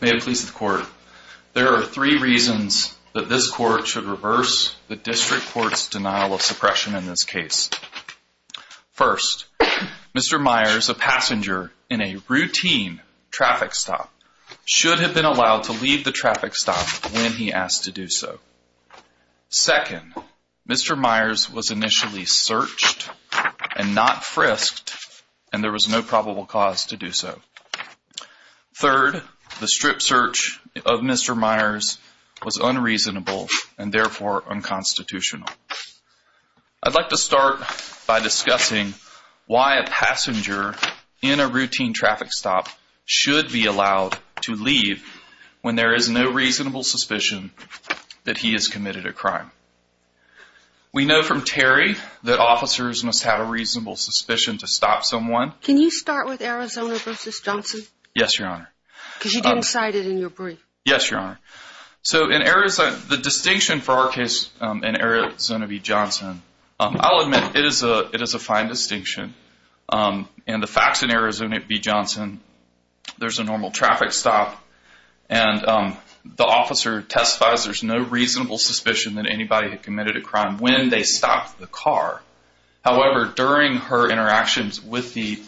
May it please the court, there are three reasons that this court should reverse the District Court's denial of suppression in this case. First, Mr. Myers, a passenger in a routine traffic stop, should have been allowed to leave the traffic stop when he asked to do so. Second, Mr. Myers was initially searched and not frisked and there was no probable cause to do so. Third, the strip search of Mr. Myers was unreasonable and therefore unconstitutional. I'd like to start by discussing why a passenger in a routine traffic stop should be allowed to leave when there is no reasonable suspicion that he has committed a crime. We know from Terry that officers must have a reasonable suspicion to stop someone. Can you start with Arizona v. Johnson? Yes, Your Honor. Because you didn't cite it in your brief. Yes, Your Honor. So the distinction for our case in Arizona v. Johnson, I'll admit it is a fine distinction. And the facts in Arizona v. Johnson, there's a normal traffic stop and the officer testifies there's no reasonable suspicion that anybody had committed a crime when they stopped the car. However, during her interactions with the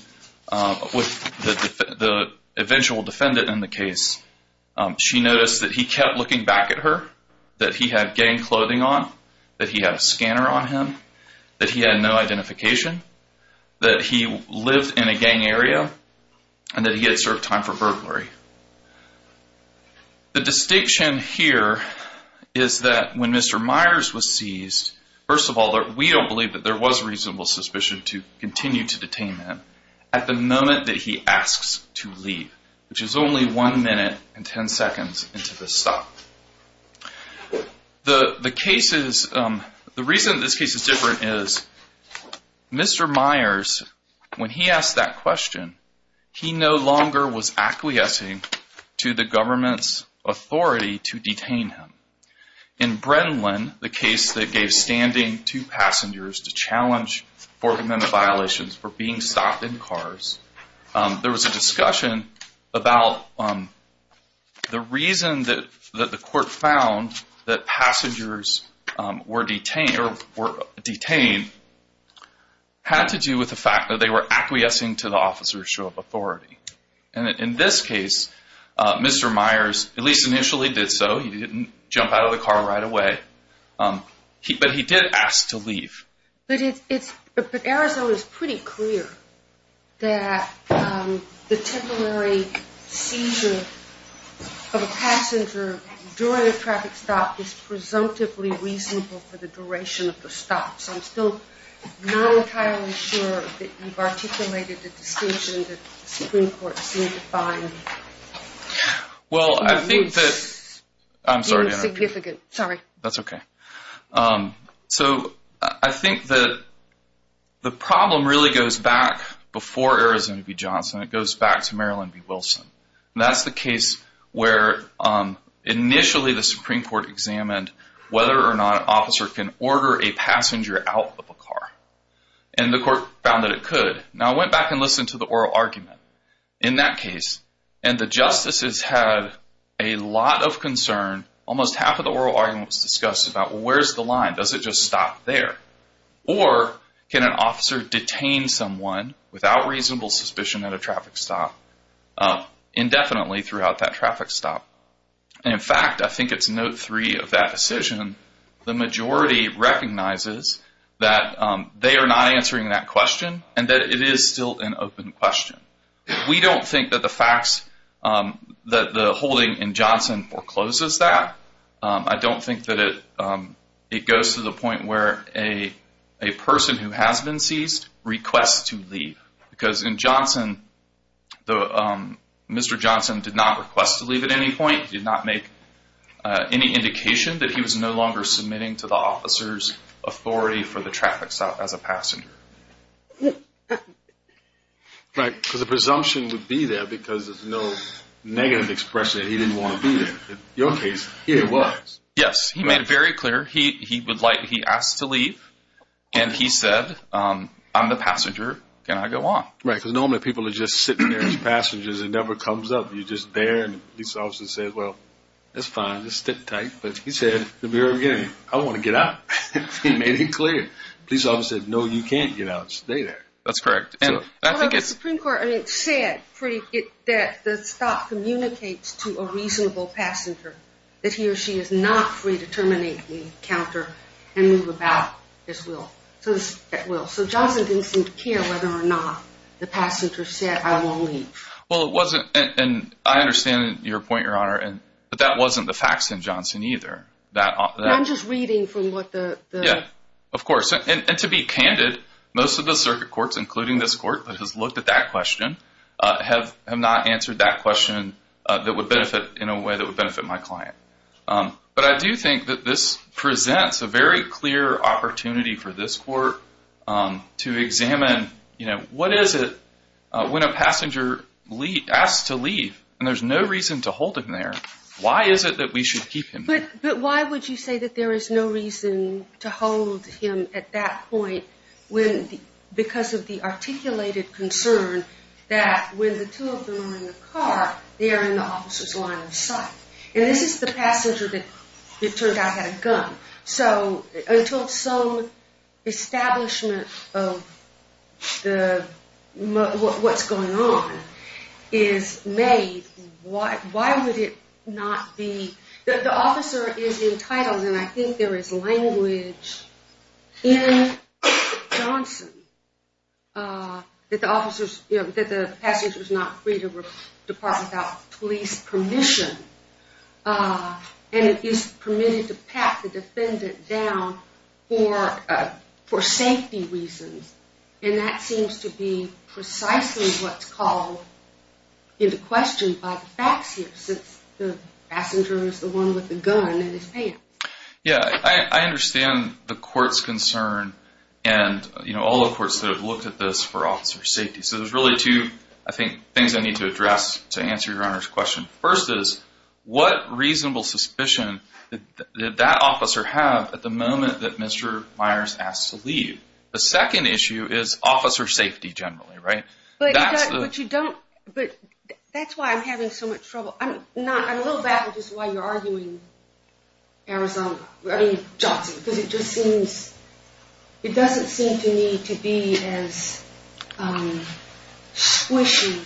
eventual defendant in the case, she noticed that he kept looking back at her, that he had gang clothing on, that he had a scanner on him, that he had no identification, that he lived in a gang area, and that he had served time for burglary. The distinction here is that when Mr. Myers was seized, first of all, we don't believe that there was reasonable suspicion to continue to detain him at the moment that he asks to leave, which is only one minute and ten seconds into the stop. The reason this case is different is Mr. Myers, when he asked that question, he no longer was acquiescing to the government's authority to detain him. In Brenlin, the case that gave standing to passengers to challenge for the amendment violations for being stopped in cars, there was a discussion about the reason that the court found that passengers were detained had to do with the fact that they were acquiescing to the officer's show of authority. In this case, Mr. Myers, at least initially did so, he didn't jump out of the car right away, but he did ask to leave. But Arizona is pretty clear that the temporary seizure of a passenger during a traffic stop is presumptively reasonable for the duration of the stop, so I'm still not entirely sure that you've articulated the distinction that the Supreme Court seems to find significant. That's okay. So I think that the problem really goes back before Arizona v. Johnson. It goes back to Maryland v. Wilson. That's the case where initially the Supreme Court examined whether or not an officer can order a passenger out of a car, and the court found that it could. Now, I went back and listened to the oral argument in that case, and the justices had a lot of concern. Almost half of the oral argument was discussed about, well, where's the line? Does it just stop there? Or can an officer detain someone without reasonable suspicion at a traffic stop indefinitely throughout that traffic stop? In fact, I think it's note three of that decision. The majority recognizes that they are not answering that question and that it is still an open question. We don't think that the facts that the holding in Johnson forecloses that. I don't think that it goes to the point where a person who has been seized requests to leave. Because in Johnson, Mr. Johnson did not request to leave at any point. He did not make any indication that he was no longer submitting to the officer's authority for the traffic stop as a passenger. Right, because the presumption would be there because there's no negative expression that he didn't want to be there. In your case, it was. Yes, he made it very clear. He asked to leave, and he said, I'm the passenger, can I go on? Right, because normally people are just sitting there as passengers. It never comes up. You're just there, and the police officer says, well, that's fine. Just sit tight. But he said at the very beginning, I want to get out. He made it clear. The police officer said, no, you can't get out. Stay there. That's correct. The Supreme Court said that the stop communicates to a reasonable passenger that he or she is not free to terminate the encounter and move about at will. So Johnson didn't seem to care whether or not the passenger said, I won't leave. Well, it wasn't, and I understand your point, Your Honor, but that wasn't the facts in Johnson either. I'm just reading from what the. Yeah, of course, and to be candid, most of the circuit courts, including this court that has looked at that question, have not answered that question that would benefit in a way that would benefit my client. But I do think that this presents a very clear opportunity for this court to examine, you know, what is it when a passenger asks to leave and there's no reason to hold him there, why is it that we should keep him there? But why would you say that there is no reason to hold him at that point when, because of the articulated concern that when the two of them are in the car, they are in the officer's line of sight. And this is the passenger that it turned out had a gun. So until some establishment of what's going on is made, why would it not be, the officer is entitled, and I think there is language in Johnson that the passenger is not free to depart without police permission. And it is permitted to pat the defendant down for safety reasons. And that seems to be precisely what's called into question by the facts here, since the passenger is the one with the gun and his pants. Yeah, I understand the court's concern and, you know, all the courts that have looked at this for officer safety. So there's really two, I think, things I need to address to answer your Honor's question. First is, what reasonable suspicion did that officer have at the moment that Mr. Myers asked to leave? The second issue is officer safety generally, right? But you don't, but that's why I'm having so much trouble. I'm not, I'm a little baffled just why you're arguing Arizona, I mean Johnson, because it just seems, it doesn't seem to me to be as squishy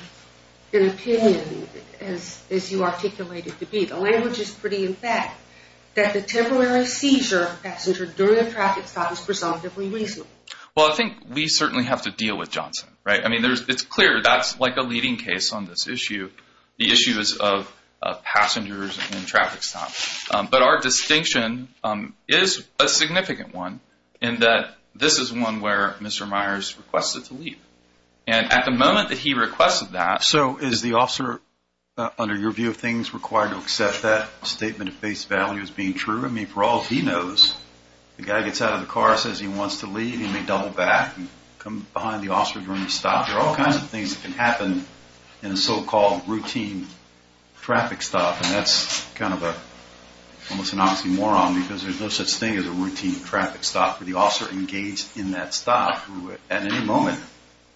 an opinion as you articulated to be. The language is pretty in fact that the temporary seizure of passenger during a traffic stop is presumptively reasonable. Well, I think we certainly have to deal with Johnson, right? I mean, it's clear that's like a leading case on this issue. The issue is of passengers and traffic stops. But our distinction is a significant one in that this is one where Mr. Myers requested to leave. And at the moment that he requested that. So is the officer, under your view of things, required to accept that statement of face value as being true? I mean, for all he knows, the guy gets out of the car, says he wants to leave. He may double back and come behind the officer during the stop. There are all kinds of things that can happen in a so-called routine traffic stop. And that's kind of a, almost an oxymoron, because there's no such thing as a routine traffic stop. The officer engaged in that stop, at any moment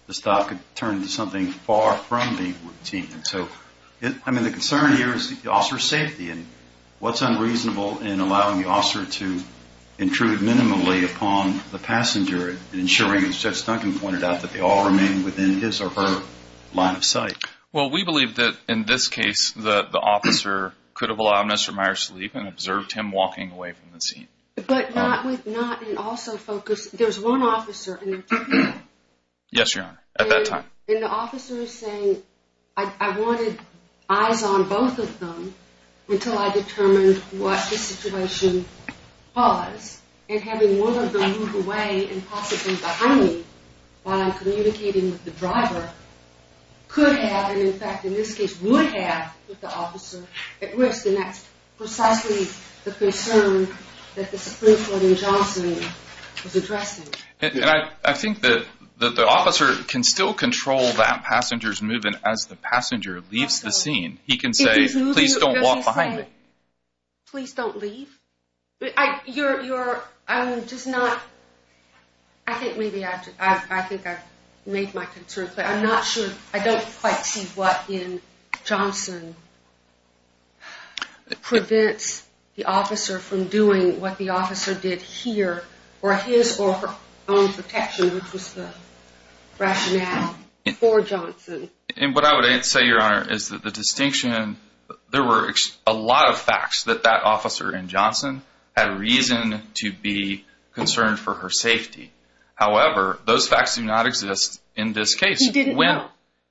the stop could turn into something far from the routine. I mean, the concern here is the officer's safety. And what's unreasonable in allowing the officer to intrude minimally upon the passenger and ensuring, as Judge Duncan pointed out, that they all remain within his or her line of sight? Well, we believe that in this case the officer could have allowed Mr. Myers to leave and observed him walking away from the scene. But not with, not, and also focus, there's one officer in the traffic stop. Yes, Your Honor, at that time. And the officer is saying, I wanted eyes on both of them until I determined what the situation was. And having one of them move away and possibly behind me while I'm communicating with the driver could have, and in fact in this case would have, put the officer at risk. And that's precisely the concern that the Supreme Court in Johnson was addressing. And I think that the officer can still control that passenger's movement as the passenger leaves the scene. He can say, please don't walk behind me. Please don't leave? You're, I'm just not, I think maybe, I think I've made my concern clear. I'm not sure, I don't quite see what in Johnson prevents the officer from doing what the officer did here for his or her own protection, which was the rationale for Johnson. And what I would say, Your Honor, is that the distinction, there were a lot of facts that that officer in Johnson had reason to be concerned for her safety. However, those facts do not exist in this case. He didn't know.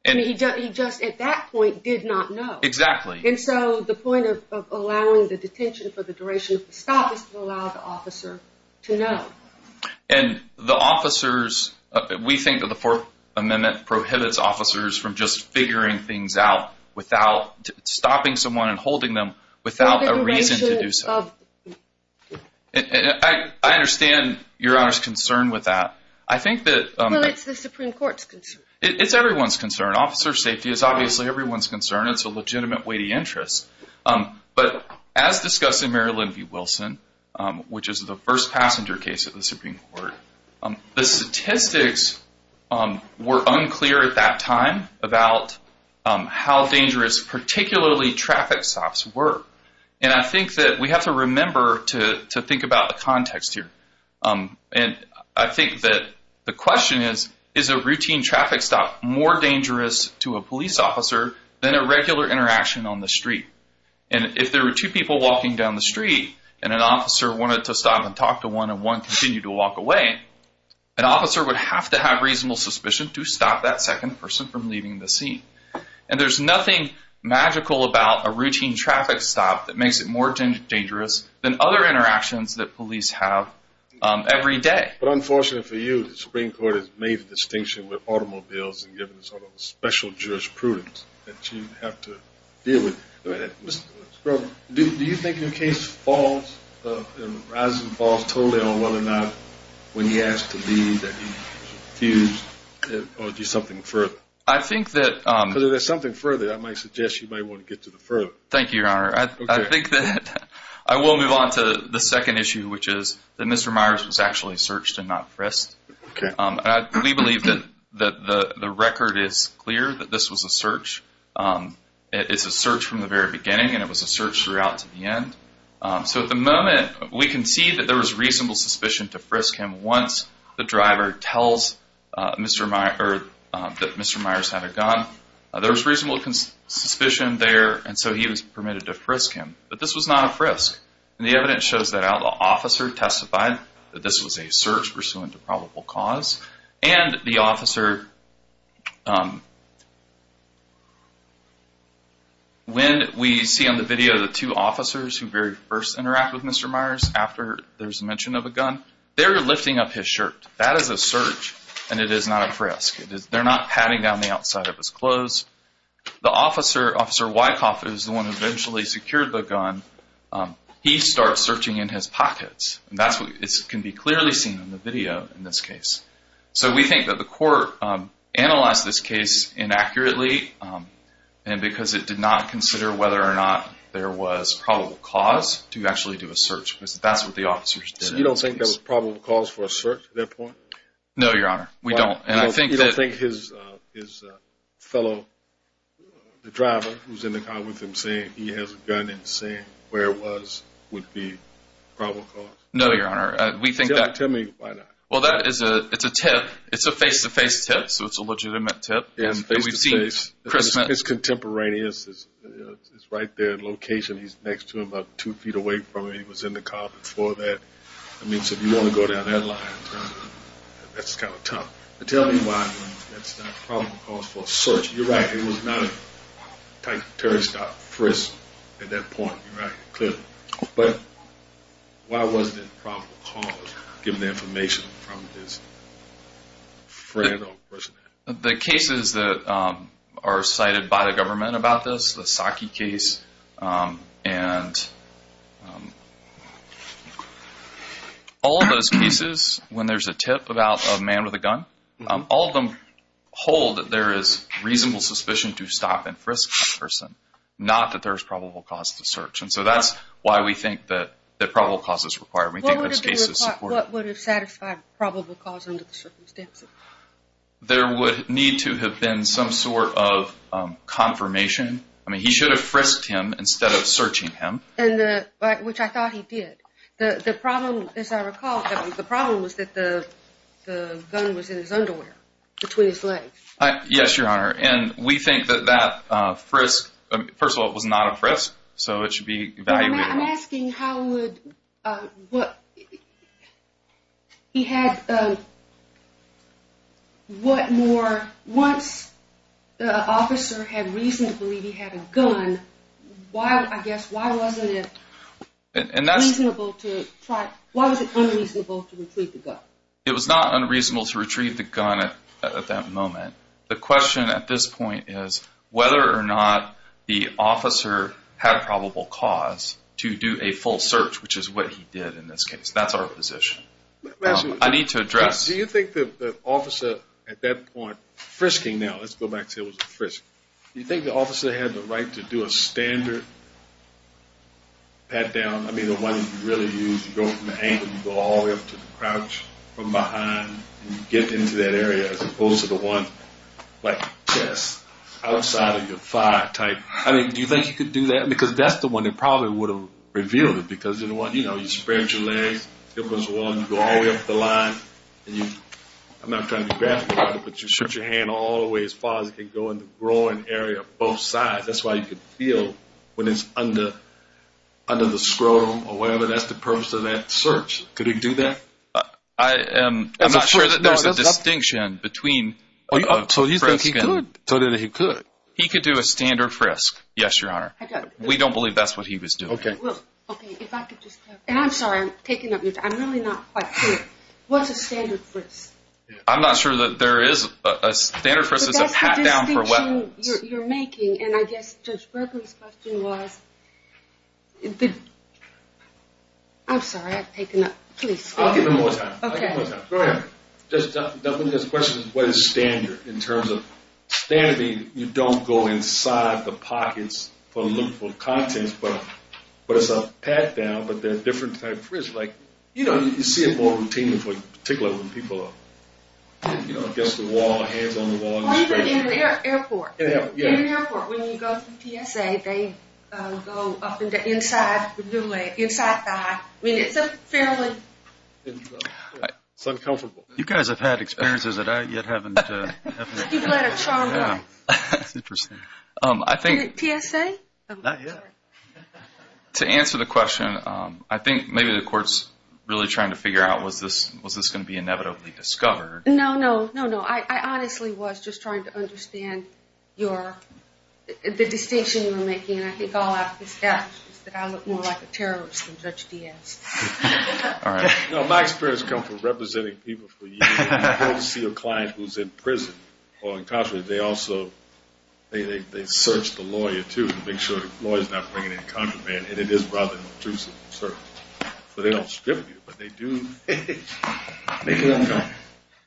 I mean, he just at that point did not know. Exactly. And so the point of allowing the detention for the duration of the stop is to allow the officer to know. And the officers, we think that the Fourth Amendment prohibits officers from just figuring things out without, stopping someone and holding them without a reason to do so. I understand Your Honor's concern with that. I think that... Well, it's the Supreme Court's concern. It's everyone's concern. Officer safety is obviously everyone's concern. It's a legitimate weighty interest. But as discussed in Mary Lynn v. Wilson, which is the first passenger case of the Supreme Court, the statistics were unclear at that time about how dangerous particularly traffic stops were. And I think that we have to remember to think about the context here. And I think that the question is, is a routine traffic stop more dangerous to a police officer than a regular interaction on the street? And if there were two people walking down the street and an officer wanted to stop and talk to one and one continued to walk away, an officer would have to have reasonable suspicion to stop that second person from leaving the scene. And there's nothing magical about a routine traffic stop that makes it more dangerous than other interactions that police have every day. But unfortunately for you, the Supreme Court has made the distinction with automobiles and given a sort of special jurisprudence that you have to deal with. Do you think your case falls and rises and falls totally on whether or not when you ask to leave that you refuse or do something further? I think that... Because if there's something further, I might suggest you might want to get to the further. Thank you, Your Honor. Okay. I think that I will move on to the second issue, which is that Mr. Myers was actually searched and not frisked. Okay. We believe that the record is clear that this was a search. It's a search from the very beginning, and it was a search throughout to the end. So at the moment, we can see that there was reasonable suspicion to frisk him once the driver tells that Mr. Myers had a gun. There was reasonable suspicion there, and so he was permitted to frisk him. But this was not a frisk, and the evidence shows that. The officer testified that this was a search pursuant to probable cause, and the officer... When we see on the video the two officers who very first interact with Mr. Myers after there's mention of a gun, they're lifting up his shirt. That is a search, and it is not a frisk. They're not patting down the outside of his clothes. The officer, Officer Wyckoff, is the one who eventually secured the gun. He starts searching in his pockets, and that's what can be clearly seen on the video in this case. So we think that the court analyzed this case inaccurately, and because it did not consider whether or not there was probable cause, to actually do a search, because that's what the officers did. So you don't think there was probable cause for a search at that point? No, Your Honor, we don't. You don't think his fellow driver who's in the car with him saying he has a gun and saying where it was would be probable cause? No, Your Honor. Tell me why not. Well, that is a tip. It's a face-to-face tip, so it's a legitimate tip. It's face-to-face. It's contemporaneous. It's right there in location. He's next to him about two feet away from him. He was in the car before that. I mean, so if you want to go down that line, that's kind of tough. Tell me why that's not probable cause for a search. You're right. It was not a tight, terry-stocked frisk at that point. You're right. Clearly. But why wasn't it probable cause, given the information from his friend or person? The cases that are cited by the government about this, the Saki case, and all of those cases when there's a tip about a man with a gun, all of them hold that there is reasonable suspicion to stop and frisk that person, not that there's probable cause to search. And so that's why we think that probable cause is required. What would have satisfied probable cause under the circumstances? There would need to have been some sort of confirmation. I mean, he should have frisked him instead of searching him. Which I thought he did. The problem, as I recall, the problem was that the gun was in his underwear between his legs. Yes, Your Honor. And we think that that frisk, first of all, it was not a frisk, so it should be evaluated. I'm asking how would, what, he had, what more, once the officer had reason to believe he had a gun, why, I guess, why wasn't it reasonable to try, why was it unreasonable to retrieve the gun? It was not unreasonable to retrieve the gun at that moment. The question at this point is whether or not the officer had probable cause to do a full search, which is what he did in this case. That's our position. I need to address. Do you think that the officer at that point, frisking now, let's go back to frisking. Do you think the officer had the right to do a standard pat down? I mean, the one you really use, you go from the ankle, you go all the way up to the crotch from behind, and you get into that area as opposed to the one, like, chest, outside of your thigh type. I mean, do you think you could do that? Because that's the one that probably would have revealed it, because, you know, you spread your legs, hip goes along, you go all the way up the line, and you, I'm not trying to be graphic about it, but you stretch your hand all the way as far as it can go in the groin area of both sides. That's why you can feel when it's under the scrotum or whatever. That's the purpose of that search. Could he do that? I'm not sure that there's a distinction between frisking. So he said he could. He could do a standard frisk, yes, Your Honor. We don't believe that's what he was doing. Okay, if I could just clarify. And I'm sorry, I'm taking up your time. I'm really not quite clear. What's a standard frisk? I'm not sure that there is. A standard frisk is a pat down for weapons. But that's the distinction you're making, and I guess Judge Berkley's question was, I'm sorry, I've taken up. Please. I'll give him more time. Okay. I'll give him more time. Go ahead. The question is, what is standard in terms of, standard means you don't go inside the pockets to look for contents, but it's a pat down, but they're different types of frisks. Like, you know, you see it more routinely, particularly when people are, you know, against the wall, hands on the wall. In an airport. In an airport, yeah. Inside the eye. I mean, it's a fairly. It's uncomfortable. You guys have had experiences that I yet haven't. You've let it charm you. That's interesting. I think. PSA? Not yet. To answer the question, I think maybe the court's really trying to figure out, was this going to be inevitably discovered? No, no, no, no. I honestly was just trying to understand your, the distinction you were making. And I think all I can say is that I look more like a terrorist than Judge Diaz. All right. No, my experience comes from representing people for years. When you go to see a client who's in prison or incarcerated, they also, they search the lawyer, too, to make sure the lawyer's not bringing in contraband. And it is rather intrusive, certainly. So they don't strip you, but they do make you uncomfortable.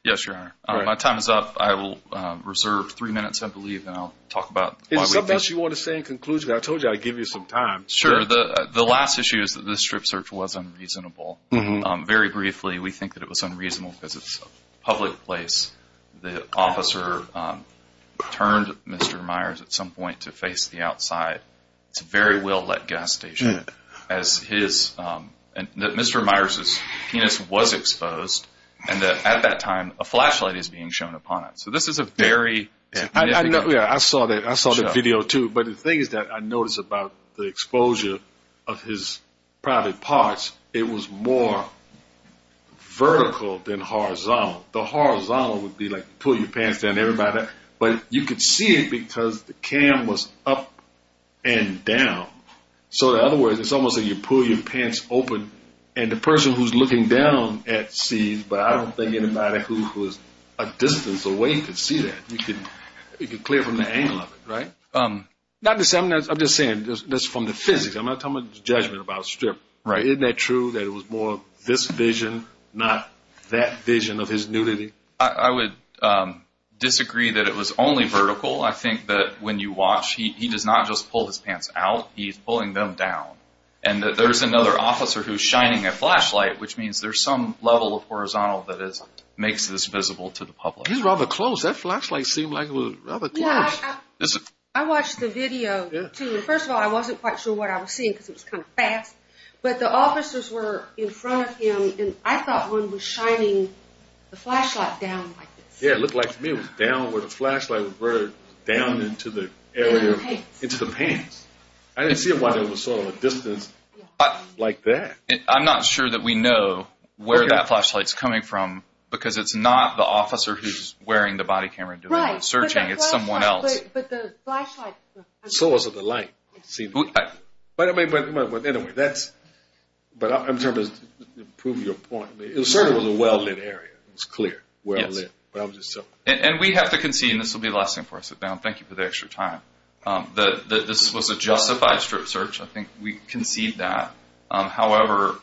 Yes, Your Honor. My time is up. I will reserve three minutes, I believe, and I'll talk about. Is there something else you want to say in conclusion? I told you I'd give you some time. Sure. The last issue is that this strip search was unreasonable. Very briefly, we think that it was unreasonable because it's a public place. The officer turned Mr. Myers at some point to face the outside. It's a very well-lit gas station. Mr. Myers' penis was exposed, and at that time a flashlight is being shown upon it. So this is a very significant. Yeah, I saw that video, too. But the thing is that I noticed about the exposure of his private parts, it was more vertical than horizontal. The horizontal would be, like, pull your pants down, everybody. But you could see it because the cam was up and down. So, in other words, it's almost like you pull your pants open, and the person who's looking down at sees, but I don't think anybody who is a distance away could see that. You could clear from the angle of it, right? I'm just saying this from the physics. I'm not talking about judgment about a strip. Isn't that true that it was more this vision, not that vision of his nudity? I would disagree that it was only vertical. I think that when you watch, he does not just pull his pants out. He's pulling them down. And there's another officer who's shining a flashlight, which means there's some level of horizontal that makes this visible to the public. He's rather close. That flashlight seemed like it was rather close. I watched the video, too. First of all, I wasn't quite sure what I was seeing because it was kind of fast. But the officers were in front of him, and I thought one was shining the flashlight down like this. Yeah, it looked like to me it was down where the flashlight was down into the pants. I didn't see why there was sort of a distance like that. I'm not sure that we know where that flashlight's coming from because it's not the officer who's wearing the body camera doing the searching. It's someone else. Right, but the flashlight. So was the light. But anyway, that's. But I'm trying to prove your point. It was sort of a well-lit area. It was clear, well-lit. And we have to concede, and this will be the last thing before I sit down, thank you for the extra time, that this was a justified strip search. I think we concede that. However,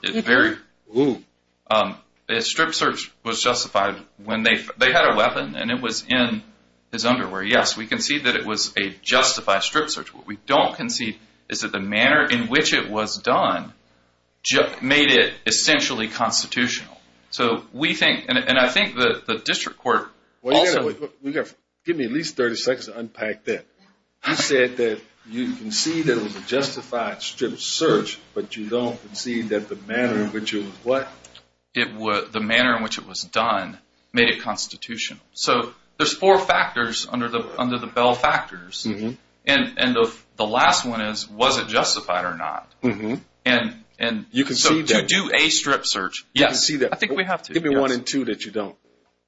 a strip search was justified when they had a weapon, and it was in his underwear. Yes, we concede that it was a justified strip search. What we don't concede is that the manner in which it was done made it essentially constitutional. So we think, and I think the district court also. Give me at least 30 seconds to unpack that. You said that you concede that it was a justified strip search, but you don't concede that the manner in which it was what? The manner in which it was done made it constitutional. So there's four factors under the Bell factors, and the last one is was it justified or not. So to do a strip search, yes. I concede that. I think we have to. Give me one and two that you don't.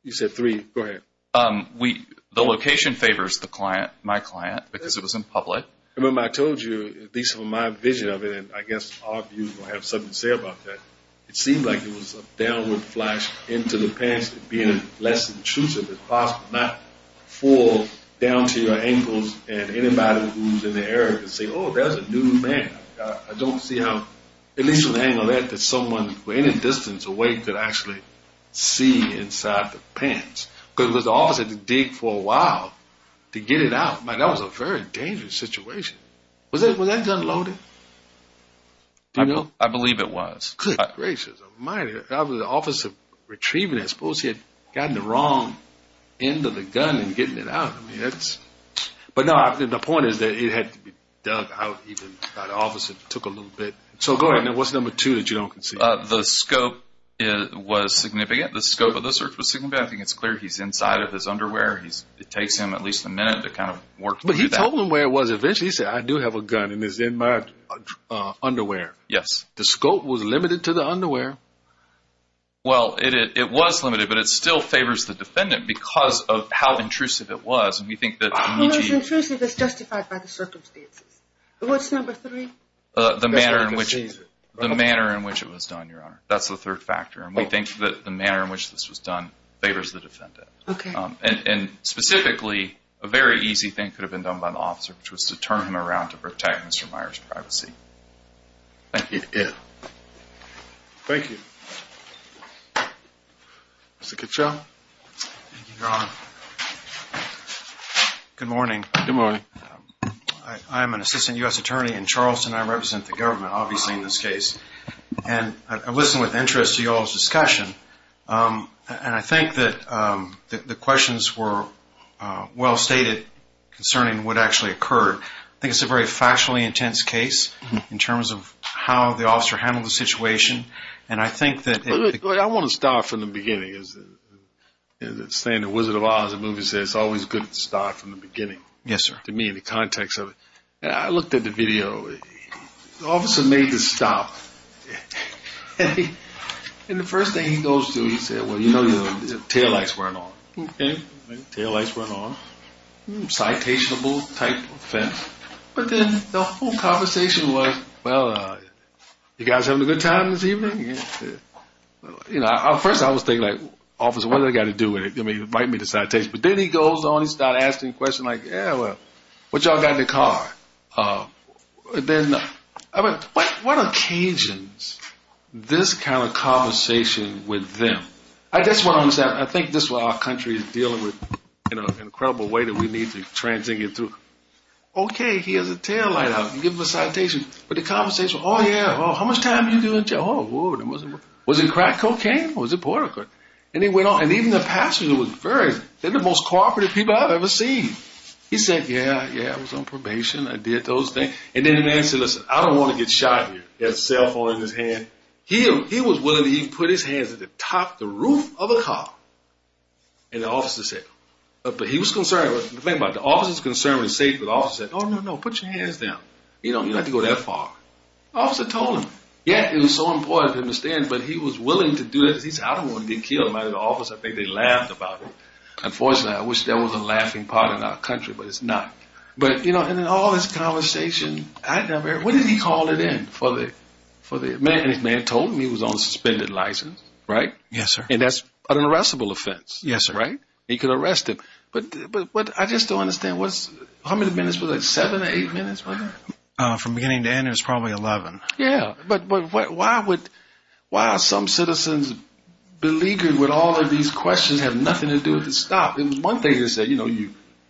You said three. Go ahead. The location favors the client, my client, because it was in public. Remember I told you, at least from my vision of it, and I guess our views will have something to say about that, it seemed like it was a downward flash into the pants and being as less intrusive as possible, not fall down to your ankles and anybody who's in the area can say, oh, there's a new man. I don't see how, at least from the angle of that, that someone from any distance away could actually see inside the pants. Because it was the officer that digged for a while to get it out. Man, that was a very dangerous situation. Was that gun loaded? Do you know? I believe it was. Good gracious of mine. That was the officer retrieving it. I suppose he had gotten the wrong end of the gun in getting it out. But no, the point is that it had to be dug out. The officer took a little bit. So go ahead. What's number two that you don't concede? The scope was significant. The scope of the search was significant. I think it's clear he's inside of his underwear. It takes him at least a minute to kind of work through that. But he told them where it was eventually. He said, I do have a gun, and it's in my underwear. Yes. The scope was limited to the underwear. Well, it was limited, but it still favors the defendant because of how intrusive it was. Who was intrusive is justified by the circumstances. What's number three? The manner in which it was done, Your Honor. That's the third factor. And we think that the manner in which this was done favors the defendant. Okay. And specifically, a very easy thing could have been done by the officer, which was to turn him around to protect Mr. Meyer's privacy. Thank you. Mr. Kitchell. Thank you, Your Honor. Good morning. Good morning. I'm an assistant U.S. attorney in Charleston. I represent the government, obviously, in this case. And I listened with interest to y'all's discussion. And I think that the questions were well stated concerning what actually occurred. I think it's a very factually intense case in terms of how the officer handled the situation. And I think that the ---- Look, I want to start from the beginning. As they say in The Wizard of Oz, the movie says, it's always good to start from the beginning. Yes, sir. To me, in the context of it. I looked at the video. The officer made the stop. And the first thing he goes to, he said, well, you know, your taillights weren't on. Okay. Taillights weren't on. Citationable type offense. But then the whole conversation was, well, you guys having a good time this evening? Yeah. You know, at first I was thinking, like, officer, what do I got to do with it? I mean, invite me to citation. But then he goes on and starts asking questions like, yeah, well, what do y'all got in the car? Then I went, what occasion is this kind of conversation with them? I just want to understand. I think this is what our country is dealing with in an incredible way that we need to translate it through. Okay, he has a taillight out. Give him a citation. But the conversation, oh, yeah, how much time did you do in jail? Oh, was it crack cocaine? Or was it port-a-cord? And even the passengers, they're the most cooperative people I've ever seen. He said, yeah, yeah, I was on probation. I did those things. And then the man said, listen, I don't want to get shot here. He had a cell phone in his hand. He was willing to even put his hands at the top of the roof of a car. And the officer said, but he was concerned. The thing about it, the officer was concerned and safe. But the officer said, oh, no, no, put your hands down. You don't have to go that far. The officer told him. Yeah, it was so important for him to stand, but he was willing to do it. Because he said, I don't want to get killed. And the officer, I think they laughed about it. Unfortunately, I wish there was a laughing part in our country, but it's not. But, you know, and then all this conversation. When did he call it in? And his man told him he was on a suspended license, right? Yes, sir. And that's an arrestable offense. Yes, sir. Right? He could arrest him. But I just don't understand. How many minutes? Was it seven or eight minutes? From beginning to end, it was probably 11. Yeah. But why are some citizens beleaguered with all of these questions have nothing to do with the stop? It was one thing to say, you know,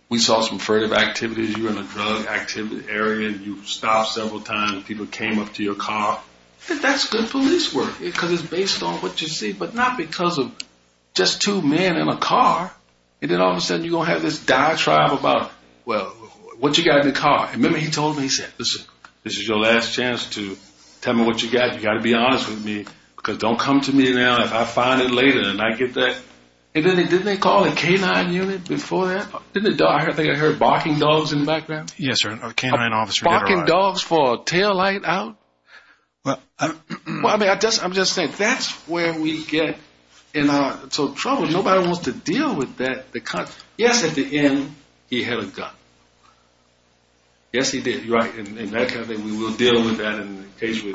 we saw some furtive activities. You were in a drug activity area. You stopped several times. People came up to your car. That's good police work because it's based on what you see, but not because of just two men in a car. And then all of a sudden you're going to have this diatribe about, well, what you got in the car. And then he told me, he said, listen, this is your last chance to tell me what you got. You got to be honest with me because don't come to me now. If I find it later and I get that. And then didn't they call a canine unit before that? Didn't they? I think I heard barking dogs in the background. Yes, sir. A canine officer. Barking dogs for a taillight out? Well, I mean, I'm just saying that's where we get in trouble. Nobody wants to deal with that. Yes, at the end, he had a gun. Yes, he did. Right. And we will deal with that in case of a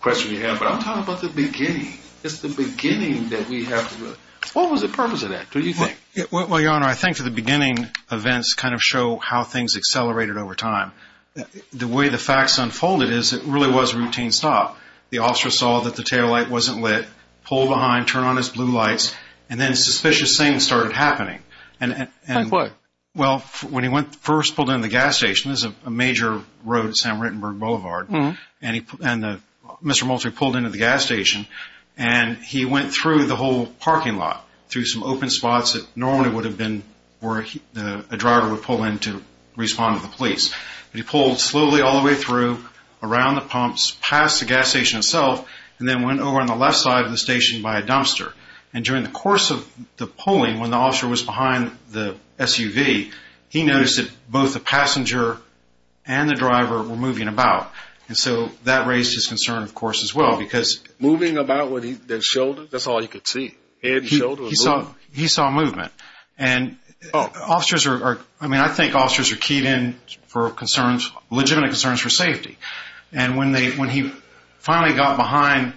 question you have. But I'm talking about the beginning. It's the beginning that we have to look. What was the purpose of that? What do you think? Well, Your Honor, I think for the beginning events kind of show how things accelerated over time. The way the facts unfolded is it really was a routine stop. The officer saw that the taillight wasn't lit, pulled behind, turned on his blue lights, and then suspicious things started happening. Like what? Well, when he first pulled into the gas station, this is a major road at San Rittenberg Boulevard, and Mr. Moultrie pulled into the gas station, and he went through the whole parking lot, through some open spots that normally would have been where a driver would pull in to respond to the police. He pulled slowly all the way through, around the pumps, past the gas station itself, and then went over on the left side of the station by a dumpster. And during the course of the pulling, when the officer was behind the SUV, he noticed that both the passenger and the driver were moving about. And so that raised his concern, of course, as well. Moving about with his shoulders? That's all you could see? Head and shoulders? He saw movement. And officers are keyed in for legitimate concerns for safety. And when he finally got behind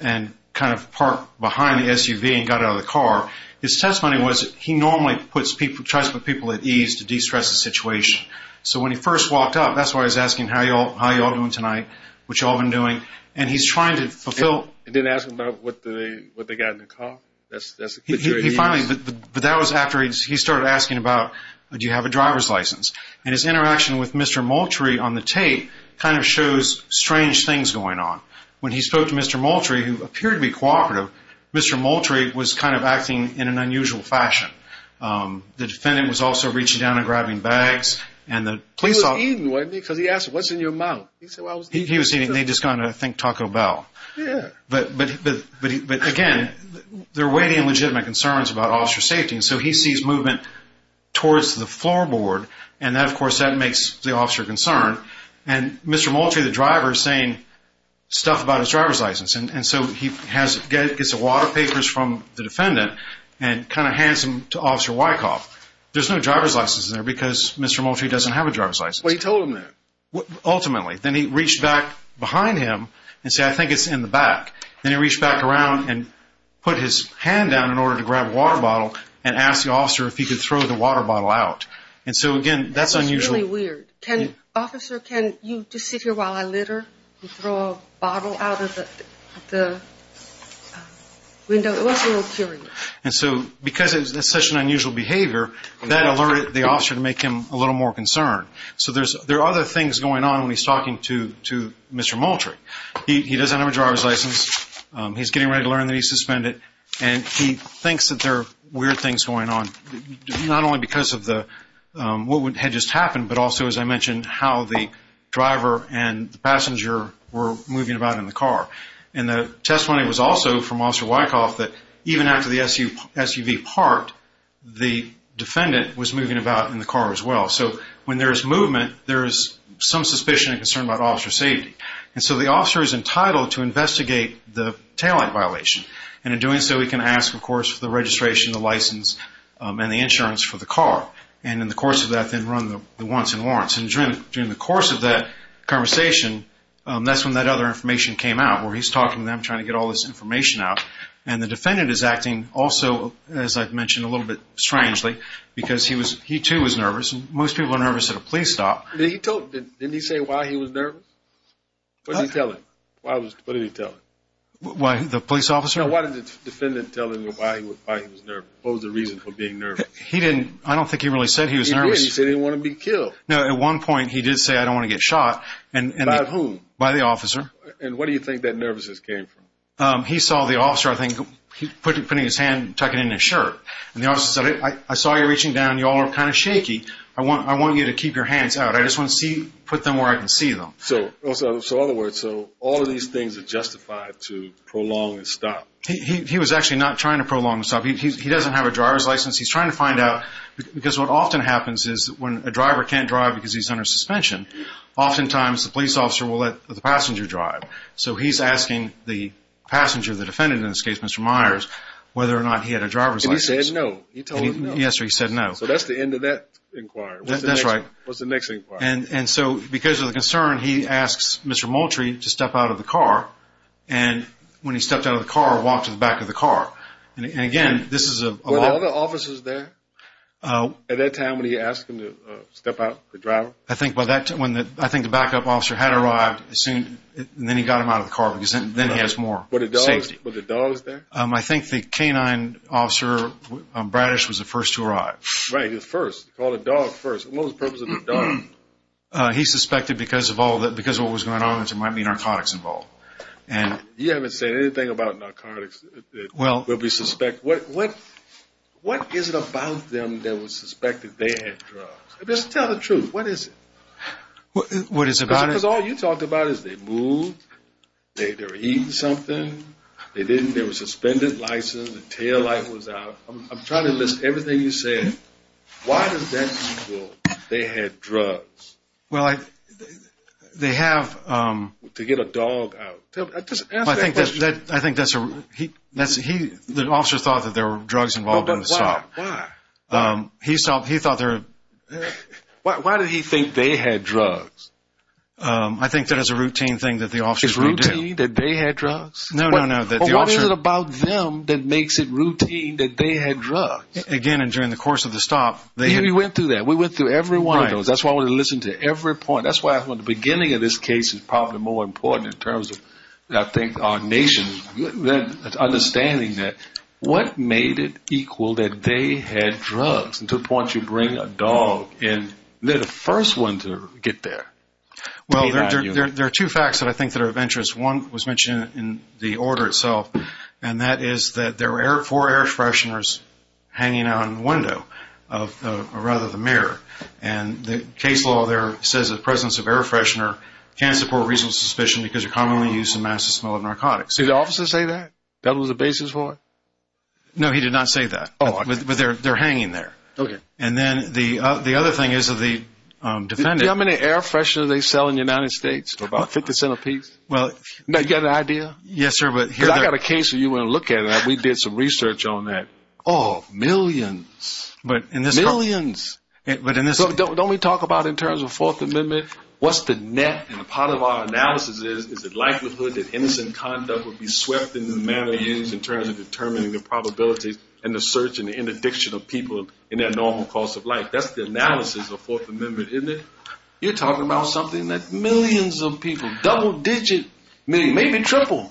and kind of parked behind the SUV and got out of the car, his testimony was he normally tries to put people at ease to de-stress the situation. So when he first walked up, that's why I was asking, how are you all doing tonight, what have you all been doing? And he's trying to fulfill— He didn't ask them about what they got in the car? But that was after he started asking about, do you have a driver's license? And his interaction with Mr. Moultrie on the tape kind of shows strange things going on. When he spoke to Mr. Moultrie, who appeared to be cooperative, Mr. Moultrie was kind of acting in an unusual fashion. The defendant was also reaching down and grabbing bags, and the police officer— He was eating, wasn't he? Because he asked, what's in your mouth? He was eating. They'd just gone to think Taco Bell. Yeah. But, again, they're weighing in legitimate concerns about officer safety. So he sees movement towards the floorboard. And, of course, that makes the officer concerned. And Mr. Moultrie, the driver, is saying stuff about his driver's license. And so he gets a lot of papers from the defendant and kind of hands them to Officer Wyckoff. There's no driver's license in there because Mr. Moultrie doesn't have a driver's license. Well, he told him that. Ultimately. Then he reached back behind him and said, I think it's in the back. Then he reached back around and put his hand down in order to grab a water bottle and asked the officer if he could throw the water bottle out. And so, again, that's unusual. That's really weird. Officer, can you just sit here while I litter and throw a bottle out of the window? It was a little curious. And so because it's such an unusual behavior, that alerted the officer to make him a little more concerned. So there are other things going on when he's talking to Mr. Moultrie. He doesn't have a driver's license. He's getting ready to learn that he's suspended. And he thinks that there are weird things going on, not only because of what had just happened, but also, as I mentioned, how the driver and the passenger were moving about in the car. And the testimony was also from Officer Wyckoff that even after the SUV parked, the defendant was moving about in the car as well. So when there is movement, there is some suspicion and concern about officer safety. And so the officer is entitled to investigate the taillight violation. And in doing so, he can ask, of course, for the registration, the license, and the insurance for the car. And in the course of that, then run the wants and warrants. And during the course of that conversation, that's when that other information came out, where he's talking to them, trying to get all this information out. And the defendant is acting also, as I've mentioned, a little bit strangely because he too was nervous. Most people are nervous at a police stop. Didn't he say why he was nervous? What did he tell him? What did he tell him? The police officer? No, why did the defendant tell him why he was nervous? What was the reason for being nervous? He didn't. I don't think he really said he was nervous. He did. He said he didn't want to be killed. No, at one point he did say, I don't want to get shot. By whom? By the officer. And where do you think that nervousness came from? He saw the officer, I think, putting his hand and tucking it in his shirt. And the officer said, I saw you reaching down. You all are kind of shaky. I want you to keep your hands out. I just want to put them where I can see them. So, in other words, all of these things are justified to prolong the stop. He was actually not trying to prolong the stop. He doesn't have a driver's license. He's trying to find out because what often happens is when a driver can't drive because he's under suspension, oftentimes the police officer will let the passenger drive. So he's asking the passenger, the defendant in this case, Mr. Myers, whether or not he had a driver's license. And he said no. He told him no. Yes, or he said no. So that's the end of that inquiry. That's right. What's the next inquiry? And so because of the concern, he asks Mr. Moultrie to step out of the car. And when he stepped out of the car, walked to the back of the car. And, again, this is a lot. Were there other officers there at that time when he asked him to step out, the driver? I think the backup officer had arrived and then he got him out of the car because then he has more safety. Were the dogs there? I think the canine officer, Bradish, was the first to arrive. Right, he was first. He called the dog first. What was the purpose of the dog? He suspected because of what was going on that there might be narcotics involved. You haven't said anything about narcotics that we suspect. What is it about them that would suspect that they had drugs? Just tell the truth. What is it? What is it about it? Because all you talked about is they moved, they were eating something. They didn't. There was a suspended license. The taillight was out. I'm trying to list everything you said. Why does that equal they had drugs? Well, they have. To get a dog out. Just answer that question. I think that's a, he, the officer thought that there were drugs involved in the stop. Why? He thought there were. Why did he think they had drugs? I think that is a routine thing that the officers do. Is it routine that they had drugs? No, no, no. What is it about them that makes it routine that they had drugs? Again, and during the course of the stop, they had. We went through that. We went through every one of those. That's why I want to listen to every point. That's why I thought the beginning of this case is probably more important in terms of, I think, our nation understanding that. What made it equal that they had drugs? To the point you bring a dog in, they're the first one to get there. Well, there are two facts that I think that are of interest. One was mentioned in the order itself, and that is that there were four air fresheners hanging out in the window, or rather the mirror. And the case law there says the presence of air freshener can support reasonable suspicion because you're commonly used to mask the smell of narcotics. Did the officer say that? That was the basis for it? No, he did not say that. Oh, okay. But they're hanging there. Okay. And then the other thing is that the defendant. Do you know how many air fresheners they sell in the United States? About 50 cent apiece? Now, you got an idea? Yes, sir. Because I've got a case that you want to look at. We did some research on that. Oh, millions. Millions. Don't we talk about in terms of the Fourth Amendment what's the net? And part of our analysis is the likelihood that innocent conduct would be swept in the manner used in terms of determining the probabilities and the search and the interdiction of people in their normal course of life. That's the analysis of the Fourth Amendment, isn't it? You're talking about something that millions of people, double-digit, maybe triple.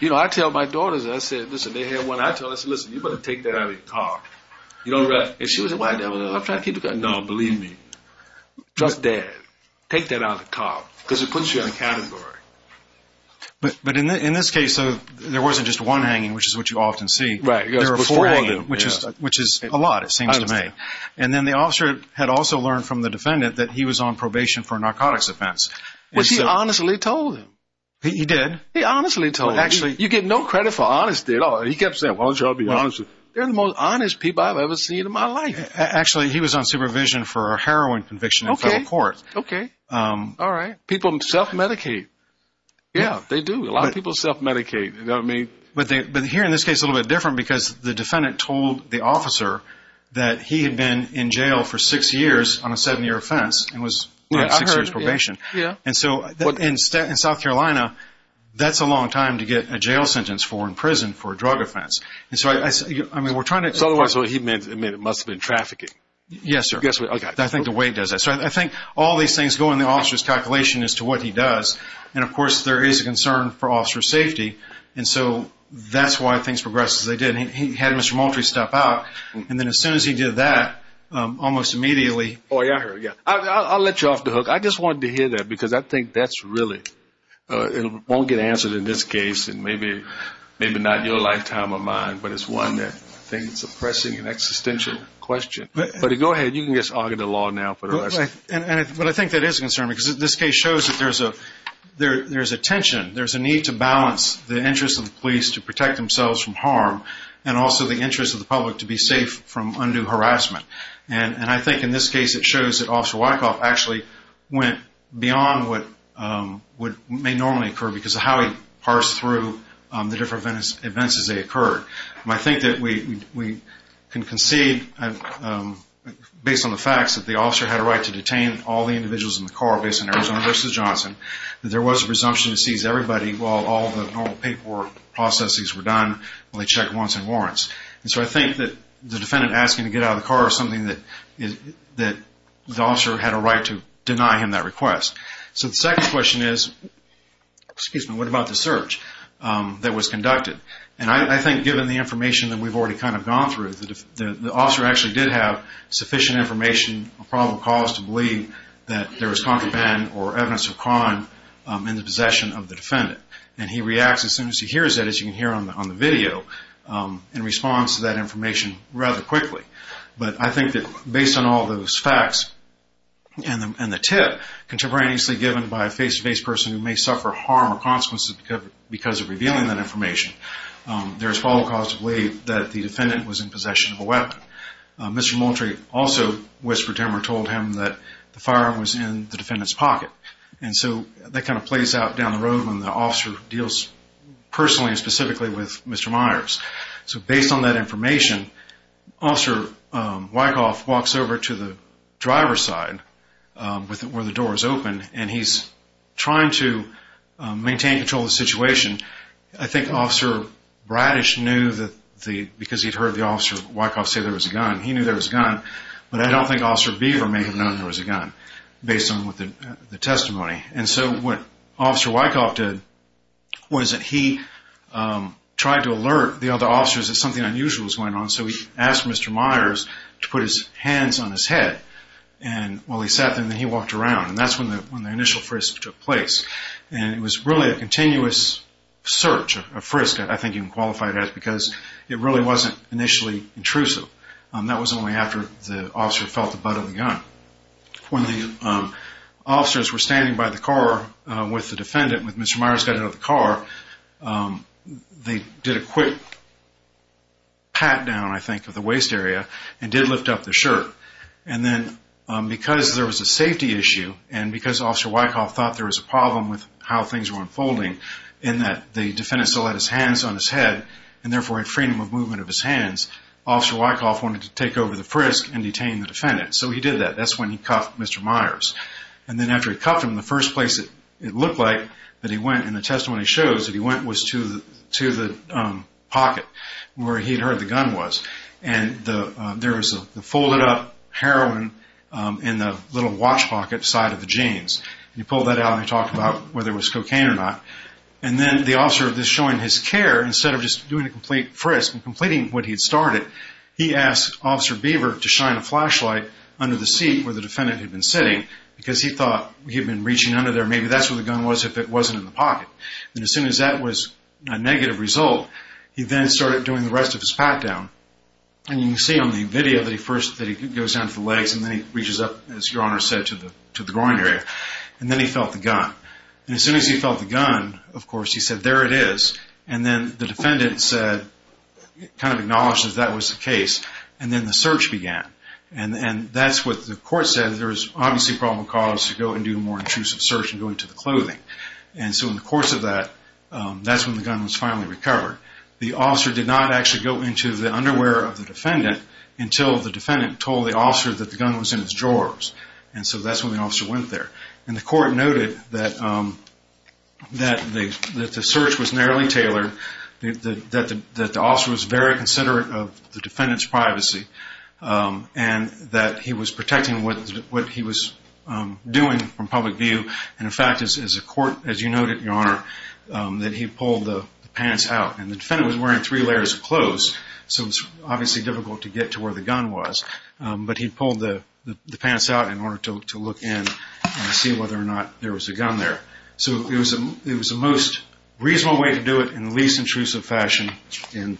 You know, I tell my daughters, I said, listen, they have one. I tell her, I said, listen, you better take that out of your car. And she said, well, I'm trying to keep it. No, believe me. Trust Dad. Take that out of the car because it puts you in a category. But in this case, there wasn't just one hanging, which is what you often see. There were four hanging, which is a lot it seems to me. I understand. And then the officer had also learned from the defendant that he was on probation for a narcotics offense. Which he honestly told him. He did? He honestly told him. Actually. You get no credit for honesty at all. He kept saying, well, I'll be honest with you. They're the most honest people I've ever seen in my life. Actually, he was on supervision for a heroin conviction in federal court. Okay. Okay. All right. People self-medicate. Yeah, they do. A lot of people self-medicate. You know what I mean? But here in this case, it's a little bit different because the defendant told the officer that he had been in jail for six years on a seven-year offense. It was six years probation. And so in South Carolina, that's a long time to get a jail sentence for in prison for a drug offense. And so, I mean, we're trying to – So, otherwise, what he meant, it must have been trafficking. Yes, sir. I think the way he does that. So, I think all these things go in the officer's calculation as to what he does. And, of course, there is a concern for officer safety. And so that's why things progress as they did. And he had Mr. Moultrie step out. And then as soon as he did that, almost immediately – Oh, yeah. I'll let you off the hook. I just wanted to hear that because I think that's really – it won't get answered in this case. And maybe not your lifetime or mine, but it's one that I think is a pressing and existential question. But go ahead. You can just argue the law now for the rest. But I think that is a concern because this case shows that there's a tension. There's a need to balance the interest of the police to protect themselves from harm and also the interest of the public to be safe from undue harassment. And I think in this case it shows that Officer Wyckoff actually went beyond what may normally occur because of how he parsed through the different events as they occurred. I think that we can concede, based on the facts, that the officer had a right to detain all the individuals in the car based on Arizona v. Johnson. There was a presumption to seize everybody while all the normal paperwork processes were done. They checked once in warrants. And so I think that the defendant asking to get out of the car is something that the officer had a right to deny him that request. So the second question is, excuse me, what about the search that was conducted? And I think given the information that we've already kind of gone through, the officer actually did have sufficient information, a probable cause, to believe that there was contraband or evidence of crime in the possession of the defendant. And he reacts as soon as he hears it, as you can hear on the video, in response to that information rather quickly. But I think that based on all those facts and the tip contemporaneously given by a face-to-face person who may suffer harm or consequences because of revealing that information, there is probable cause to believe that the defendant was in possession of a weapon. Mr. Moultrie also whispered to him or told him that the firearm was in the defendant's pocket. And so that kind of plays out down the road when the officer deals personally and specifically with Mr. Myers. So based on that information, Officer Wyckoff walks over to the driver's side where the door is open, and I think Officer Bradish knew that because he'd heard the Officer Wyckoff say there was a gun, he knew there was a gun, but I don't think Officer Beaver may have known there was a gun based on the testimony. And so what Officer Wyckoff did was that he tried to alert the other officers that something unusual was going on, so he asked Mr. Myers to put his hands on his head while he sat there, and then he walked around. And that's when the initial frisk took place. And it was really a continuous search, a frisk, I think you can qualify it as, because it really wasn't initially intrusive. That was only after the officer felt the butt of the gun. When the officers were standing by the car with the defendant, when Mr. Myers got out of the car, they did a quick pat down, I think, of the waist area and did lift up the shirt. And then because there was a safety issue, and because Officer Wyckoff thought there was a problem with how things were unfolding, in that the defendant still had his hands on his head, and therefore had freedom of movement of his hands, Officer Wyckoff wanted to take over the frisk and detain the defendant. So he did that. That's when he cuffed Mr. Myers. And then after he cuffed him, the first place it looked like that he went in the testimony shows that he went was to the pocket where he'd heard the gun was. And there was a folded up heroin in the little watch pocket side of the jeans. He pulled that out and talked about whether it was cocaine or not. And then the officer was showing his care. Instead of just doing a complete frisk and completing what he'd started, he asked Officer Beaver to shine a flashlight under the seat where the defendant had been sitting because he thought he'd been reaching under there. Maybe that's where the gun was if it wasn't in the pocket. And as soon as that was a negative result, he then started doing the rest of his pat-down. And you can see on the video that he first goes down to the legs, and then he reaches up, as Your Honor said, to the groin area. And then he felt the gun. And as soon as he felt the gun, of course, he said, there it is. And then the defendant said, kind of acknowledged that that was the case. And then the search began. And that's what the court said. There was obviously a problem of cause to go and do a more intrusive search and go into the clothing. And so in the course of that, that's when the gun was finally recovered. The officer did not actually go into the underwear of the defendant until the defendant told the officer that the gun was in his drawers. And so that's when the officer went there. And the court noted that the search was narrowly tailored, that the officer was very considerate of the defendant's privacy, and that he was protecting what he was doing from public view and, in fact, as you noted, Your Honor, that he pulled the pants out. And the defendant was wearing three layers of clothes, so it was obviously difficult to get to where the gun was. But he pulled the pants out in order to look in and see whether or not there was a gun there. So it was the most reasonable way to do it in the least intrusive fashion in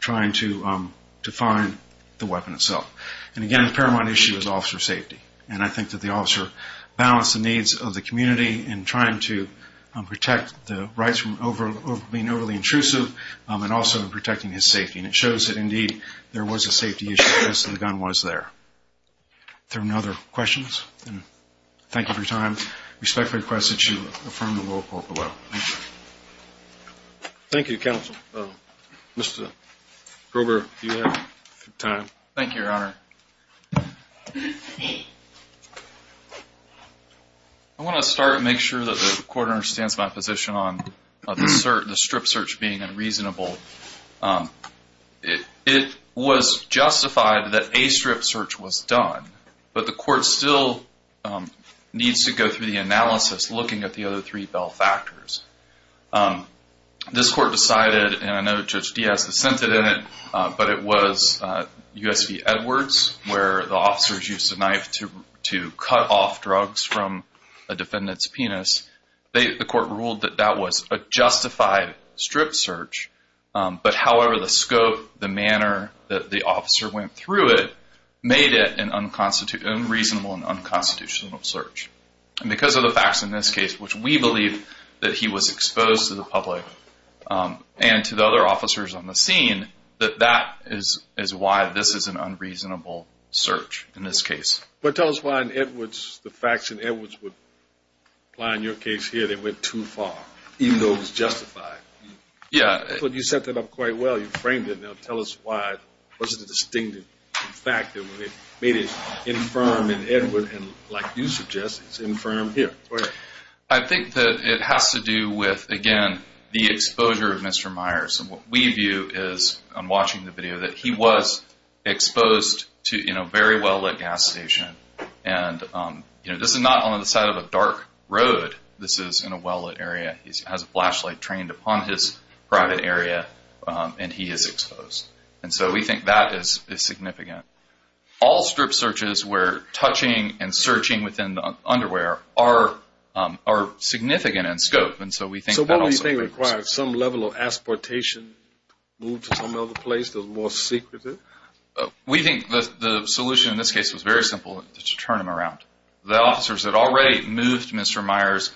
trying to find the weapon itself. And, again, the paramount issue is officer safety. And I think that the officer balanced the needs of the community in trying to protect the rights from being overly intrusive and also in protecting his safety. And it shows that, indeed, there was a safety issue because the gun was there. Are there any other questions? Thank you for your time. I respectfully request that you affirm the rule of court below. Thank you, counsel. Mr. Grober, do you have time? Thank you, Your Honor. I want to start and make sure that the court understands my position on the strip search being unreasonable. It was justified that a strip search was done, but the court still needs to go through the analysis looking at the other three bell factors. This court decided, and I know Judge Diaz dissented in it, but it was U.S. v. Edwards where the officers used a knife to cut off drugs from a defendant's penis. The court ruled that that was a justified strip search, but, however, the scope, the manner that the officer went through it made it an unreasonable and unconstitutional search. And because of the facts in this case, which we believe that he was exposed to the public and to the other officers on the scene, that that is why this is an unreasonable search in this case. Well, tell us why in Edwards, the facts in Edwards would apply in your case here. They went too far, even though it was justified. Yeah. But you set that up quite well. You framed it. Now tell us why it wasn't a distinctive fact. You made it infirm in Edwards, and like you suggested, it's infirm here. I think that it has to do with, again, the exposure of Mr. Myers. And what we view is, I'm watching the video, that he was exposed to a very well-lit gas station. And this is not on the side of a dark road. This is in a well-lit area. He has a flashlight trained upon his private area, and he is exposed. And so we think that is significant. All strip searches where touching and searching within the underwear are significant in scope. So what do you think required some level of asportation, move to some other place that was more secretive? We think the solution in this case was very simple, to turn him around. The officers had already moved Mr. Myers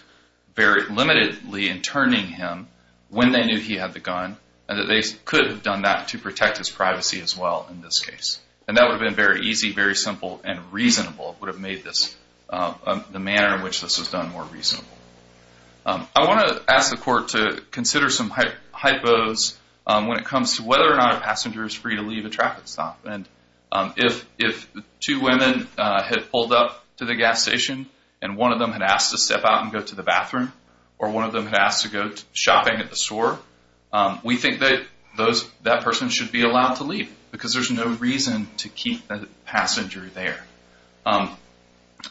very limitedly in turning him when they knew he had the gun, and that they could have done that to protect his privacy as well in this case. And that would have been very easy, very simple, and reasonable. It would have made the manner in which this was done more reasonable. I want to ask the court to consider some hypos when it comes to whether or not a passenger is free to leave a traffic stop. And if two women had pulled up to the gas station, and one of them had asked to step out and go to the bathroom, or one of them had asked to go shopping at the store, we think that that person should be allowed to leave, because there's no reason to keep the passenger there.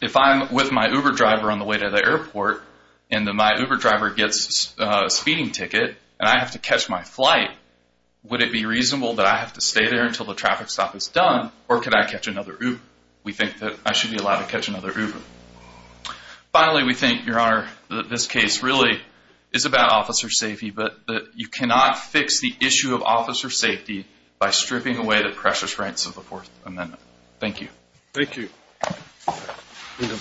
If I'm with my Uber driver on the way to the airport, and my Uber driver gets a speeding ticket, and I have to catch my flight, would it be reasonable that I have to stay there until the traffic stop is done, or could I catch another Uber? We think that I should be allowed to catch another Uber. Finally, we think, Your Honor, that this case really is about officer safety, but that you cannot fix the issue of officer safety by stripping away the precious rights of the Fourth Amendment. Thank you. Thank you.